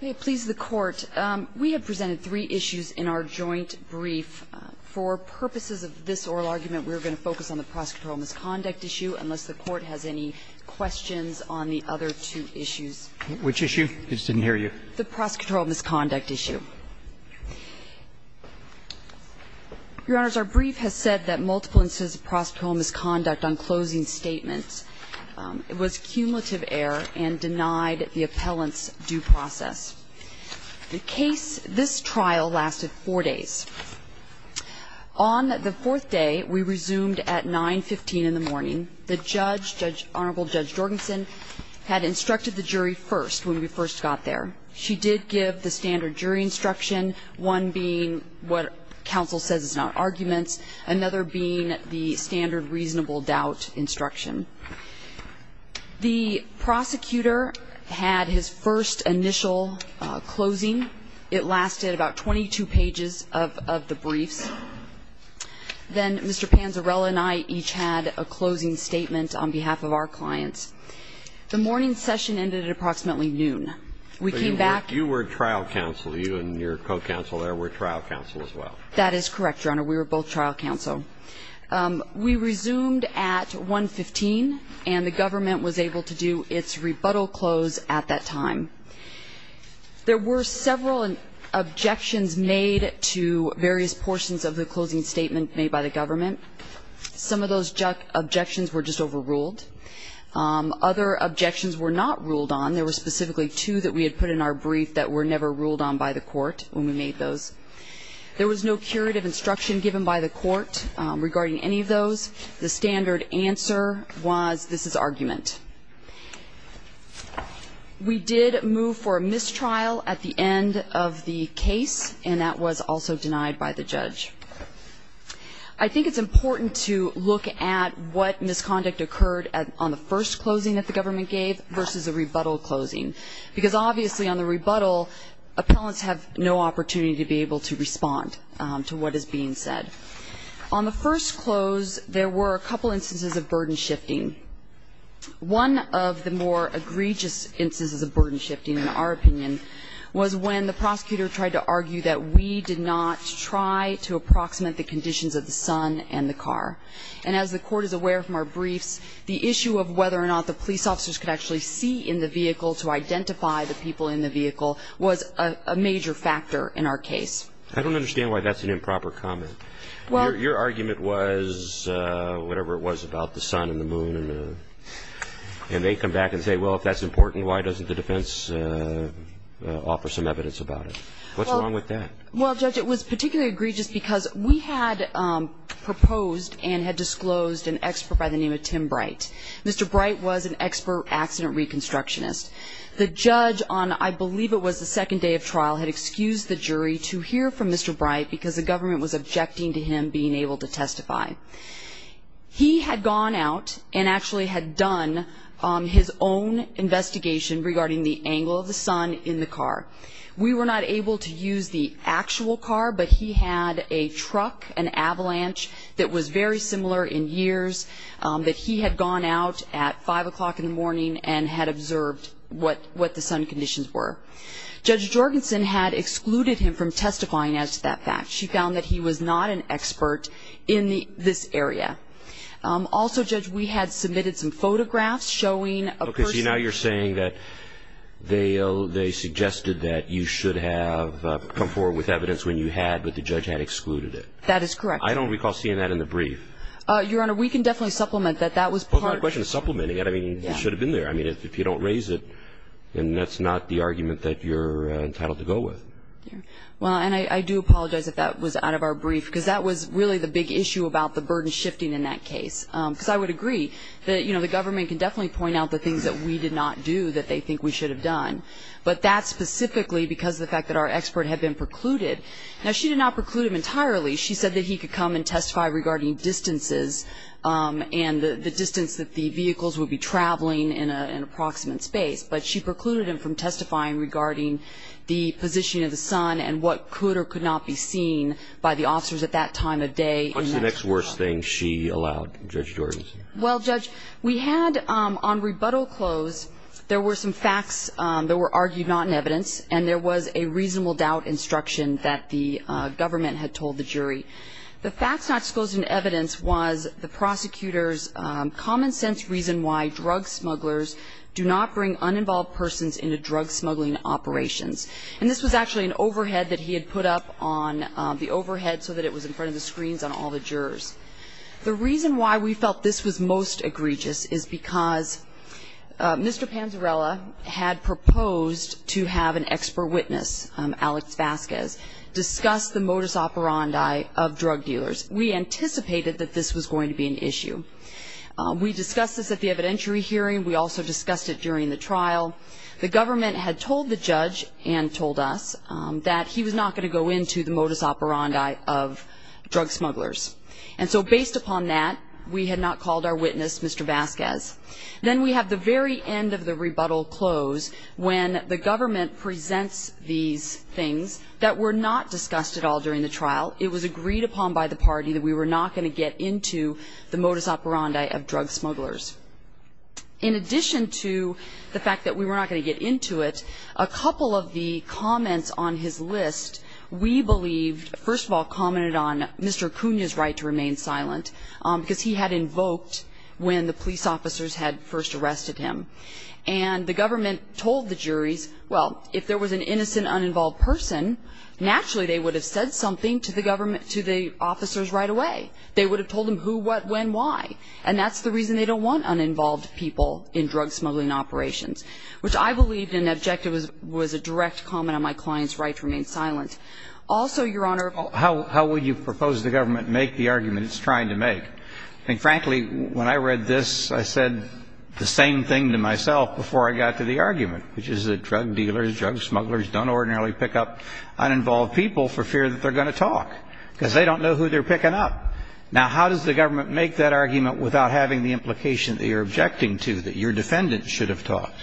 We have presented three issues in our joint brief. For purposes of this oral argument, we are going to focus on the prosecutorial misconduct issue, unless the Court has any questions on the other two issues. Which issue? I just didn't hear you. The prosecutorial misconduct issue. Your Honors, our brief has said that multiple instances of prosecutorial misconduct on closing statements was cumulative error and denied the appellant's due process. The case, this trial, lasted four days. On the fourth day, we resumed at 9.15 in the morning. The judge, Honorable Judge Jorgensen, had instructed the jury first when we first got there. She did give the standard jury instruction, one being what counsel says is not arguments, another being the standard reasonable doubt instruction. The prosecutor had his first initial closing. It lasted about 22 pages of the briefs. Then Mr. Panzarella and I each had a closing statement on behalf of our clients. The morning session ended at approximately noon. We came back. You were trial counsel. You and your co-counsel there were trial counsel as well. That is correct, Your Honor. We were both trial counsel. We resumed at 1.15, and the government was able to do its rebuttal close at that time. There were several objections made to various portions of the closing statement made by the government. Some of those objections were just overruled. Other objections were not ruled on. There were specifically two that we had put in our brief that were never ruled on by the court when we made those. There was no curative instruction given by the court regarding any of those. The standard answer was this is argument. We did move for a mistrial at the end of the case, and that was also denied by the judge. I think it's important to look at what misconduct occurred on the first closing that the government gave versus a rebuttal closing, because obviously on the rebuttal, appellants have no opportunity to be able to respond to what is being said. On the first close, there were a couple instances of burden shifting. One of the more egregious instances of burden shifting, in our opinion, was when the prosecutor tried to argue that we did not try to approximate the conditions of the sun and the car. And as the court is aware from our briefs, the issue of whether or not the police officers could actually see in the vehicle to identify the people in the vehicle was a major factor in our case. I don't understand why that's an improper comment. Your argument was whatever it was about the sun and the moon, and they come back and say, well, if that's important, why doesn't the defense offer some evidence about it? What's wrong with that? Well, Judge, it was particularly egregious because we had proposed and had disclosed an expert by the name of Tim Bright. Mr. Bright was an expert accident reconstructionist. The judge on, I believe it was the second day of trial, had excused the jury to hear from Mr. Bright because the government was objecting to him being able to testify. He had gone out and actually had done his own investigation regarding the angle of the sun in the car. We were not able to use the actual car, but he had a truck, an avalanche that was very similar in years, that he had gone out at 5 o'clock in the morning and had observed what the sun conditions were. Judge Jorgensen had excluded him from testifying as to that fact. She found that he was not an expert in this area. Also, Judge, we had submitted some photographs showing a person. Okay, so now you're saying that they suggested that you should have come forward with evidence when you had, but the judge had excluded it. That is correct. I don't recall seeing that in the brief. Your Honor, we can definitely supplement that. That was part of the question. Supplementing it? I mean, it should have been there. I mean, if you don't raise it, then that's not the argument that you're entitled to go with. Well, and I do apologize if that was out of our brief, because that was really the big issue about the burden shifting in that case, because I would agree that, you know, the government can definitely point out the things that we did not do that they think we should have done, but that's specifically because of the fact that our expert had been precluded. Now, she did not preclude him entirely. She said that he could come and testify regarding distances and the distance that the vehicles would be traveling in an approximate space, but she precluded him from testifying regarding the position of the son and what could or could not be seen by the officers at that time of day. What's the next worst thing she allowed, Judge Jordan? Well, Judge, we had on rebuttal close, there were some facts that were argued not in evidence, and there was a reasonable doubt instruction that the government had told the jury. The facts not disclosed in evidence was the prosecutor's common sense reason why drug smugglers do not bring uninvolved persons into drug smuggling operations. And this was actually an overhead that he had put up on the overhead so that it was in front of the screens on all the jurors. The reason why we felt this was most egregious is because Mr. Panzarella had proposed to have an expert witness, Alex Vasquez, discuss the modus operandi of drug dealers. We anticipated that this was going to be an issue. We discussed this at the evidentiary hearing. We also discussed it during the trial. The government had told the judge and told us that he was not going to go into the modus operandi of drug smugglers. And so based upon that, we had not called our witness, Mr. Vasquez. Then we have the very end of the rebuttal close when the government presents these things that were not discussed at all during the trial. It was agreed upon by the party that we were not going to get into the modus operandi of drug smugglers. In addition to the fact that we were not going to get into it, a couple of the comments on his list, we believed first of all commented on Mr. Acuna's right to remain silent because he had invoked when the police officers had first arrested him. And the government told the juries, well, if there was an innocent, uninvolved person, naturally they would have said something to the government, to the officers right away. They would have told them who, what, when, why. And that's the reason they don't want uninvolved people in drug smuggling operations, which I believed an objective was a direct comment on my client's right to remain silent. Also, Your Honor ---- How would you propose the government make the argument it's trying to make? I think, frankly, when I read this, I said the same thing to myself before I got to the argument, which is that drug dealers, drug smugglers don't ordinarily pick up uninvolved people for fear that they're going to talk because they don't know who they're picking up. Now, how does the government make that argument without having the implication that you're objecting to, that your defendant should have talked?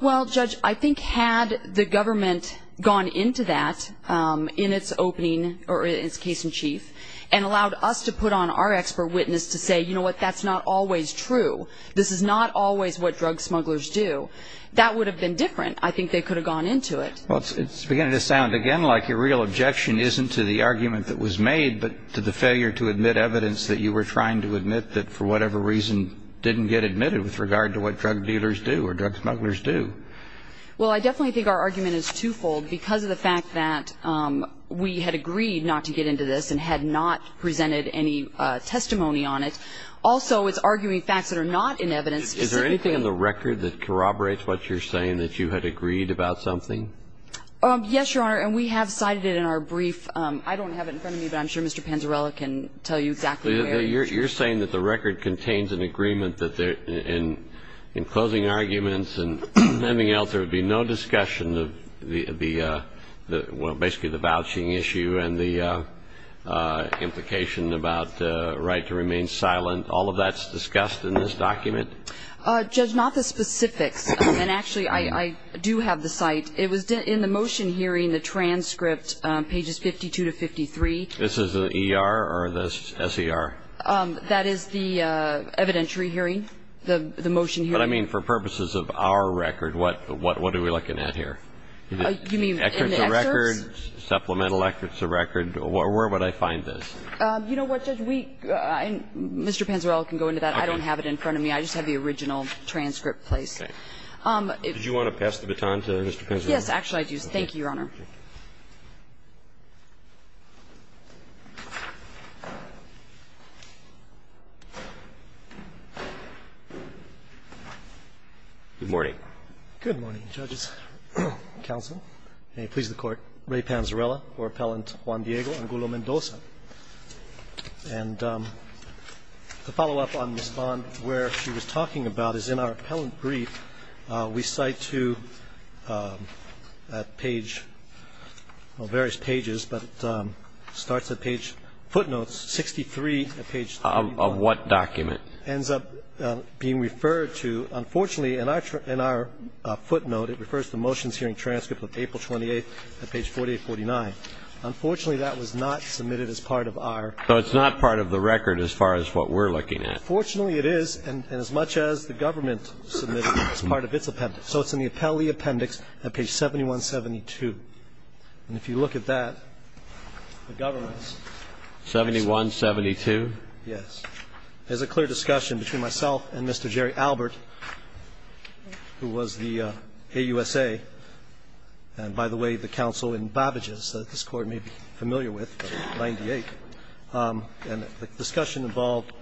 Well, Judge, I think had the government gone into that in its opening or its case in chief and allowed us to put on our expert witness to say, you know what, that's not always true, this is not always what drug smugglers do, that would have been different. I think they could have gone into it. Well, it's beginning to sound again like your real objection isn't to the argument that was made but to the failure to admit evidence that you were trying to admit that, for whatever reason, didn't get admitted with regard to what drug dealers do or drug smugglers do. Well, I definitely think our argument is twofold because of the fact that we had agreed not to get into this and had not presented any testimony on it. Also, it's arguing facts that are not in evidence. Is there anything in the record that corroborates what you're saying, that you had agreed about something? Yes, Your Honor, and we have cited it in our brief. I don't have it in front of me, but I'm sure Mr. Panzarella can tell you exactly where. You're saying that the record contains an agreement that in closing arguments and anything else there would be no discussion of the, well, basically the vouching issue and the implication about the right to remain silent. All of that's discussed in this document? Judge, not the specifics. And actually, I do have the site. It was in the motion hearing, the transcript, pages 52 to 53. This is the ER or the SER? That is the evidentiary hearing, the motion hearing. But, I mean, for purposes of our record, what are we looking at here? You mean in the excerpts? Supplemental excerpts of record. Where would I find this? You know what, Judge, Mr. Panzarella can go into that. I don't have it in front of me. I just have the original transcript place. Okay. Did you want to pass the baton to Mr. Panzarella? Yes, actually, I do. Thank you, Your Honor. Good morning. Good morning, Judges, counsel, and may it please the Court. Ray Panzarella for Appellant Juan Diego and Gulo Mendoza. And to follow up on Ms. Bond, where she was talking about is in our appellant brief, we cite to that page, well, various pages, but it starts at page footnotes, 63 at page 31. Of what document? Ends up being referred to. Unfortunately, in our footnote, it refers to motions hearing transcript of April 28th at page 4849. Unfortunately, that was not submitted as part of our. So it's not part of the record as far as what we're looking at. Fortunately, it is. And as much as the government submitted it, it's part of its appendix. So it's in the appellee appendix at page 7172. And if you look at that, the government's. 7172? Yes. There's a clear discussion between myself and Mr. Jerry Albert, who was the AUSA. And by the way, the counsel in Babbage's that this Court may be familiar with, 98. And the discussion involved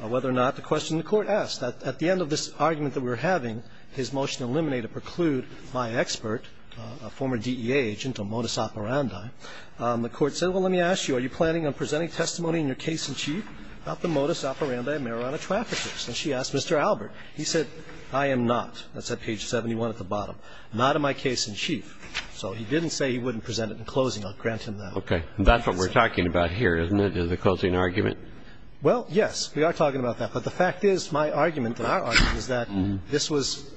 whether or not the question the Court asked. At the end of this argument that we're having, his motion to eliminate or preclude my expert, a former DEA agent, a modus operandi, the Court said, well, let me ask you, are you planning on presenting testimony in your case in chief about the modus operandi of marijuana traffickers? And she asked Mr. Albert. He said, I am not. That's at page 71 at the bottom. Not in my case in chief. So he didn't say he wouldn't present it in closing. I'll grant him that. Okay. And that's what we're talking about here, isn't it, is the closing argument? Well, yes. We are talking about that. But the fact is, my argument and our argument is that this was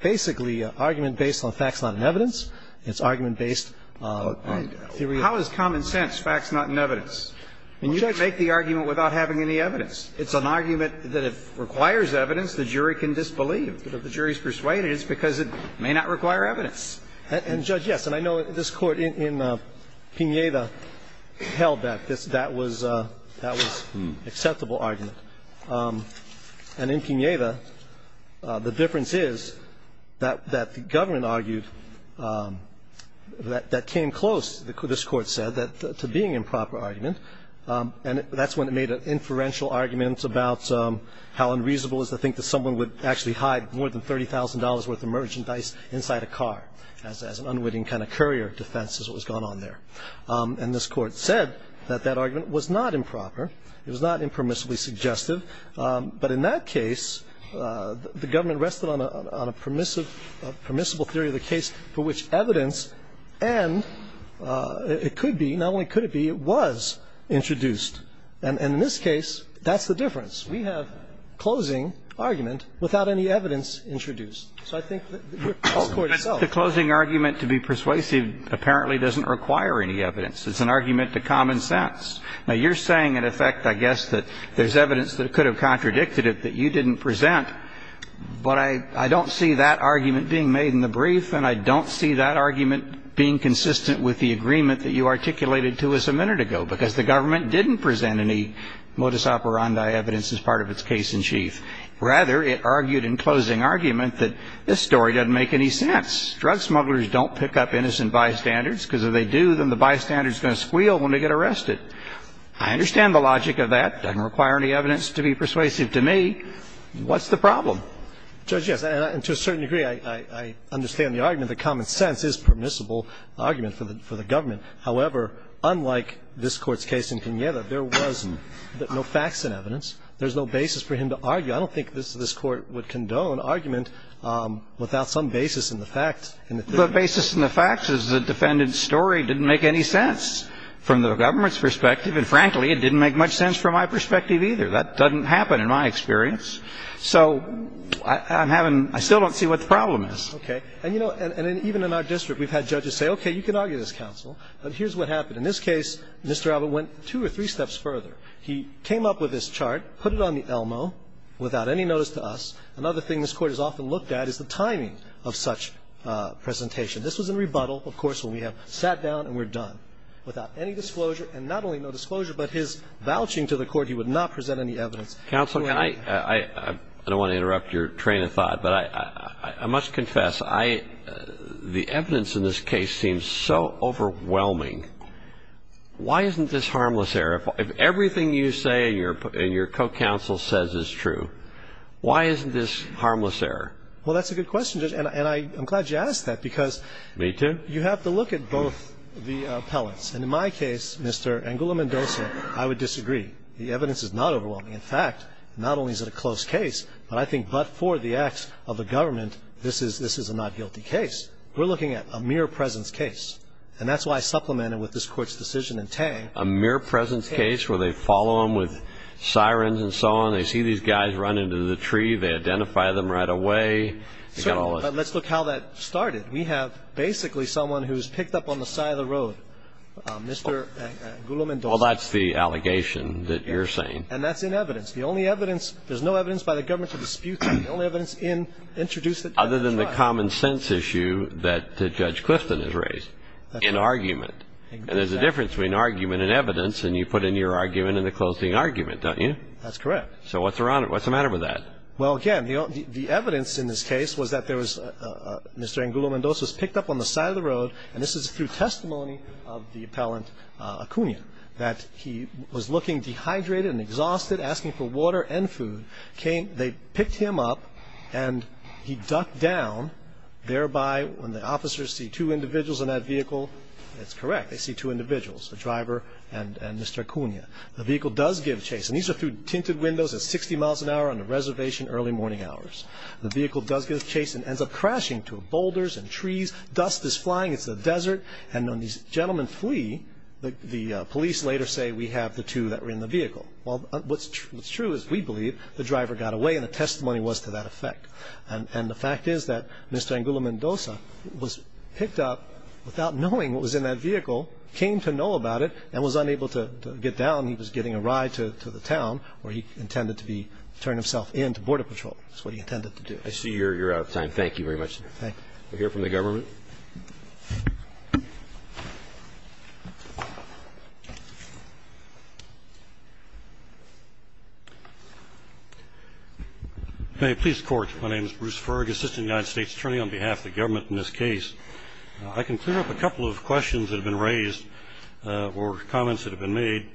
basically an argument based on facts not in evidence. It's argument based on theory. How is common sense facts not in evidence? You can't make the argument without having any evidence. It's an argument that if it requires evidence, the jury can disbelieve. But if the jury is persuaded, it's because it may not require evidence. And, Judge, yes. And I know this Court in Pineda held that that was an acceptable argument. And in Pineda, the difference is that the government argued that that came close, this Court said, to being improper argument. And that's when it made inferential arguments about how unreasonable it is to think that someone would actually hide more than $30,000 worth of merchandise inside a car as an unwitting kind of courier defense is what was going on there. And this Court said that that argument was not improper. It was not impermissibly suggestive. But in that case, the government rested on a permissible theory of the case for which evidence and it could be, not only could it be, it was introduced. And in this case, that's the difference. We have closing argument without any evidence introduced. So I think this Court itself. But the closing argument to be persuasive apparently doesn't require any evidence. It's an argument to common sense. Now, you're saying, in effect, I guess, that there's evidence that could have contradicted it that you didn't present. But I don't see that argument being made in the brief, and I don't see that argument being consistent with the agreement that you articulated to us a minute ago, because the government didn't present any modus operandi evidence as part of its case in chief. Rather, it argued in closing argument that this story doesn't make any sense. Drug smugglers don't pick up innocent bystanders because if they do, then the bystanders are going to squeal when they get arrested. I understand the logic of that. It doesn't require any evidence to be persuasive to me. What's the problem? Judge, yes. And to a certain degree, I understand the argument that common sense is permissible argument for the government. However, unlike this Court's case in Pineda, there was no facts and evidence. There's no basis for him to argue. I don't think this Court would condone argument without some basis in the fact. The basis in the fact is the defendant's story didn't make any sense from the government's perspective, and frankly, it didn't make much sense from my perspective either. That doesn't happen in my experience. So I'm having – I still don't see what the problem is. Okay. And, you know, even in our district, we've had judges say, okay, you can argue this case, counsel, but here's what happened. In this case, Mr. Alvin went two or three steps further. He came up with this chart, put it on the Elmo, without any notice to us. Another thing this Court has often looked at is the timing of such presentation. This was in rebuttal, of course, when we have sat down and we're done without any disclosure, and not only no disclosure, but his vouching to the Court he would not present any evidence to any of the witnesses. Counsel, can I – I don't want to interrupt your train of thought, but I must confess, I – the evidence in this case seems so overwhelming. Why isn't this harmless error? If everything you say and your co-counsel says is true, why isn't this harmless error? Well, that's a good question, Judge, and I'm glad you asked that because you have to look at both the appellants. And in my case, Mr. Angulo-Mendoza, I would disagree. The evidence is not overwhelming. In fact, not only is it a close case, but I think but for the acts of the government, this is a not guilty case. We're looking at a mere presence case. And that's why I supplemented with this Court's decision in Tang. A mere presence case where they follow him with sirens and so on. They see these guys run into the tree. They identify them right away. Let's look how that started. We have basically someone who's picked up on the side of the road, Mr. Angulo-Mendoza. Well, that's the allegation that you're saying. And that's in evidence. The only evidence – there's no evidence by the government to dispute that. The only evidence introduced at trial. Other than the common sense issue that Judge Clifton has raised in argument. And there's a difference between argument and evidence, and you put in your argument in the closing argument, don't you? That's correct. So what's the matter with that? Well, again, the evidence in this case was that there was – Mr. Angulo-Mendoza was picked up on the side of the road, and this is through testimony of the appellant Acuna, that he was looking dehydrated and exhausted, asking for water and food. They picked him up, and he ducked down. Thereby, when the officers see two individuals in that vehicle, it's correct. They see two individuals, a driver and Mr. Acuna. The vehicle does give chase. And these are through tinted windows at 60 miles an hour on the reservation, early morning hours. The vehicle does give chase and ends up crashing to boulders and trees. Dust is flying. It's the desert. And when these gentlemen flee, the police later say, we have the two that were in the vehicle. Well, what's true is we believe the driver got away, and the testimony was to that effect. And the fact is that Mr. Angulo-Mendoza was picked up without knowing what was in that vehicle, came to know about it, and was unable to get down. He was getting a ride to the town where he intended to turn himself in to Border Patrol. That's what he intended to do. I see you're out of time. Thank you very much. Thank you. We'll hear from the government. Thank you. May I please court? My name is Bruce Ferg, Assistant United States Attorney on behalf of the government in this case. I can clear up a couple of questions that have been raised or comments that have been made.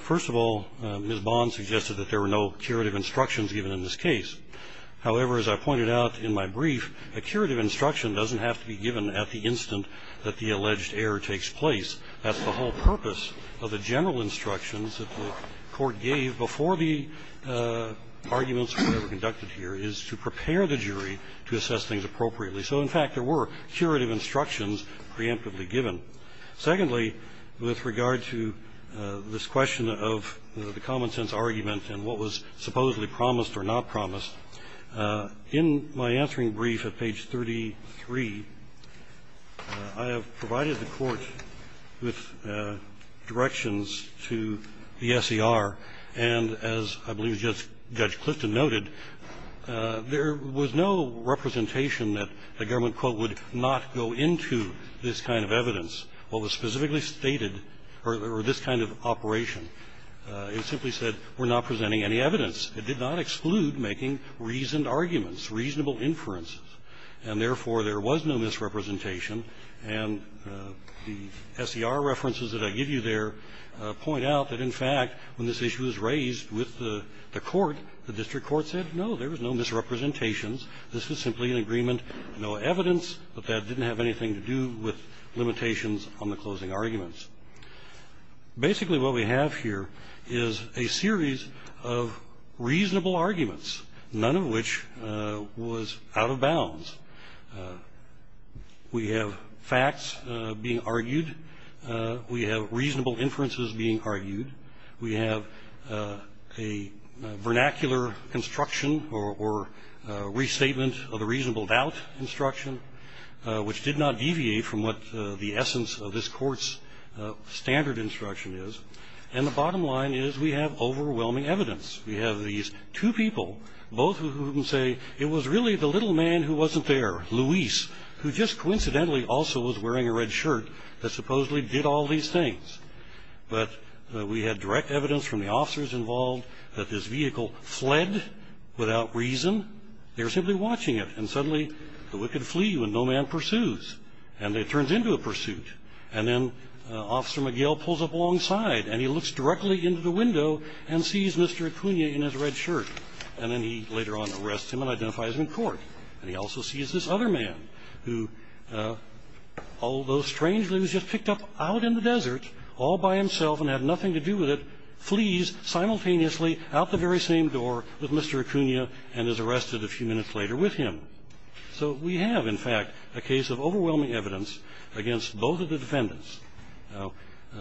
First of all, Ms. Bond suggested that there were no curative instructions given in this case. However, as I pointed out in my brief, a curative instruction doesn't have to be given at the instant that the alleged error takes place. That's the whole purpose of the general instructions that the court gave before the arguments were ever conducted here, is to prepare the jury to assess things appropriately. So, in fact, there were curative instructions preemptively given. Secondly, with regard to this question of the common-sense argument and what was supposedly promised or not promised, in my answering brief at page 33, I have provided the court with directions to the S.E.R. And as I believe Judge Clifton noted, there was no representation that the government, quote, would not go into this kind of evidence, what was specifically stated, or this kind of operation. It simply said we're not presenting any evidence. It did not exclude making reasoned arguments, reasonable inferences. And, therefore, there was no misrepresentation. And the S.E.R. references that I give you there point out that, in fact, when this was simply an agreement, no evidence, but that didn't have anything to do with limitations on the closing arguments. Basically, what we have here is a series of reasonable arguments, none of which was out of bounds. We have facts being argued. We have reasonable inferences being argued. We have a vernacular construction or restatement of a reasonable doubt instruction, which did not deviate from what the essence of this court's standard instruction is. And the bottom line is we have overwhelming evidence. We have these two people, both of whom say it was really the little man who wasn't there, Luis, who just coincidentally also was wearing a red shirt that supposedly did all these things. But we had direct evidence from the officers involved that this vehicle fled without reason. They were simply watching it. And, suddenly, the wicked flee when no man pursues. And it turns into a pursuit. And then Officer McGill pulls up alongside, and he looks directly into the window and sees Mr. Acuna in his red shirt. And then he later on arrests him and identifies him in court. And he also sees this other man who, although strangely was just picked up out in the desert all by himself and had nothing to do with it, flees simultaneously out the very same door with Mr. Acuna and is arrested a few minutes later with him. So we have, in fact, a case of overwhelming evidence against both of the defendants. Now,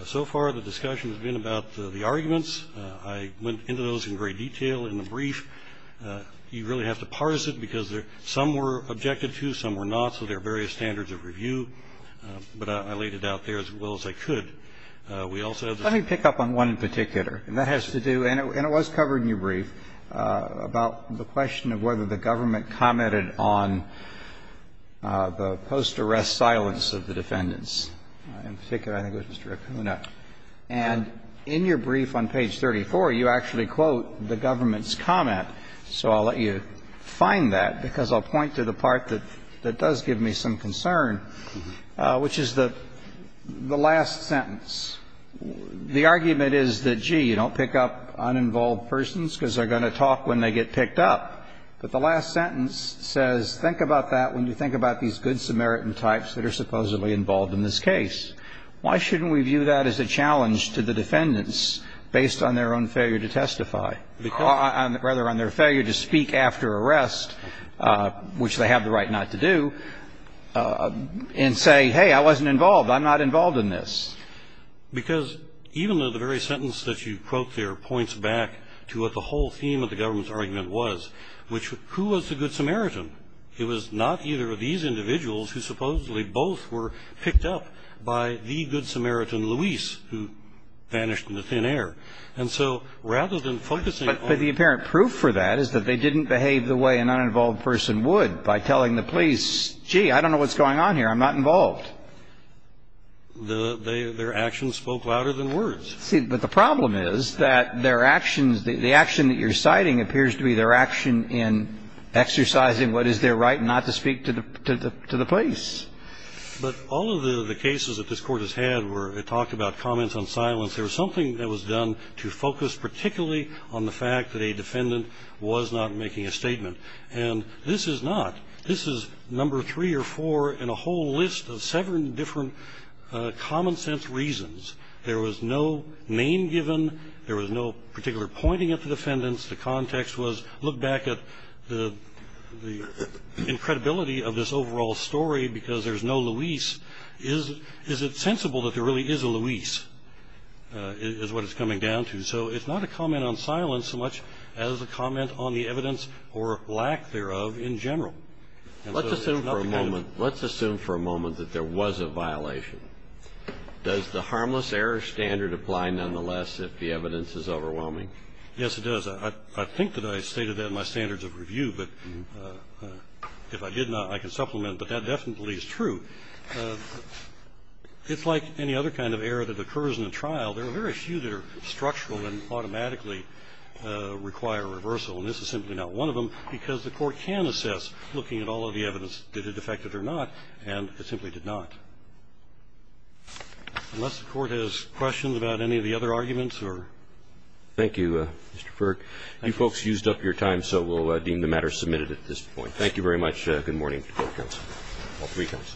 so far the discussion has been about the arguments. I went into those in great detail in the brief. You really have to parse it, because some were objected to, some were not. So there are various standards of review. But I laid it out there as well as I could. We also have the same. Roberts. Let me pick up on one in particular. And that has to do, and it was covered in your brief, about the question of whether the government commented on the post-arrest silence of the defendants. In particular, I think it was Mr. Acuna. And in your brief on page 34, you actually quote the government's comment. So I'll let you find that, because I'll point to the part that does give me some concern, which is the last sentence. The argument is that, gee, you don't pick up uninvolved persons because they're going to talk when they get picked up. But the last sentence says, think about that when you think about these good Samaritan types that are supposedly involved in this case. Why shouldn't we view that as a challenge to the defendants based on their own failure to testify? Rather, on their failure to speak after arrest, which they have the right not to do, and say, hey, I wasn't involved. I'm not involved in this. Because even though the very sentence that you quote there points back to what the whole theme of the government's argument was, which, who was the good Samaritan? It was not either of these individuals who supposedly both were picked up by the good Samaritan, Luis, who vanished into thin air. And so rather than focusing on the- But the apparent proof for that is that they didn't behave the way an uninvolved person would by telling the police, gee, I don't know what's going on here. I'm not involved. Their actions spoke louder than words. But the problem is that their actions, the action that you're citing appears to be their action in exercising what is their right not to speak to the police. But all of the cases that this Court has had where it talked about comments on silence, there was something that was done to focus particularly on the fact that a defendant was not making a statement. And this is not. This is number three or four in a whole list of seven different common-sense reasons. There was no name given. There was no particular pointing at the defendants. The context was look back at the incredibility of this overall story because there's no Luis. Is it sensible that there really is a Luis is what it's coming down to? So it's not a comment on silence so much as a comment on the evidence or lack thereof in general. Let's assume for a moment that there was a violation. Does the harmless error standard apply nonetheless if the evidence is overwhelming? Yes, it does. I think that I stated that in my standards of review. But if I did not, I can supplement. But that definitely is true. It's like any other kind of error that occurs in a trial. There are very few that are structural and automatically require reversal. And this is simply not one of them because the Court can assess, looking at all of the evidence, did it affect it or not, and it simply did not. Unless the Court has questions about any of the other arguments or ---- Thank you, Mr. Ferg. You folks used up your time, so we'll deem the matter submitted at this point. Thank you very much. Good morning to the Court of Appeals. All three counts.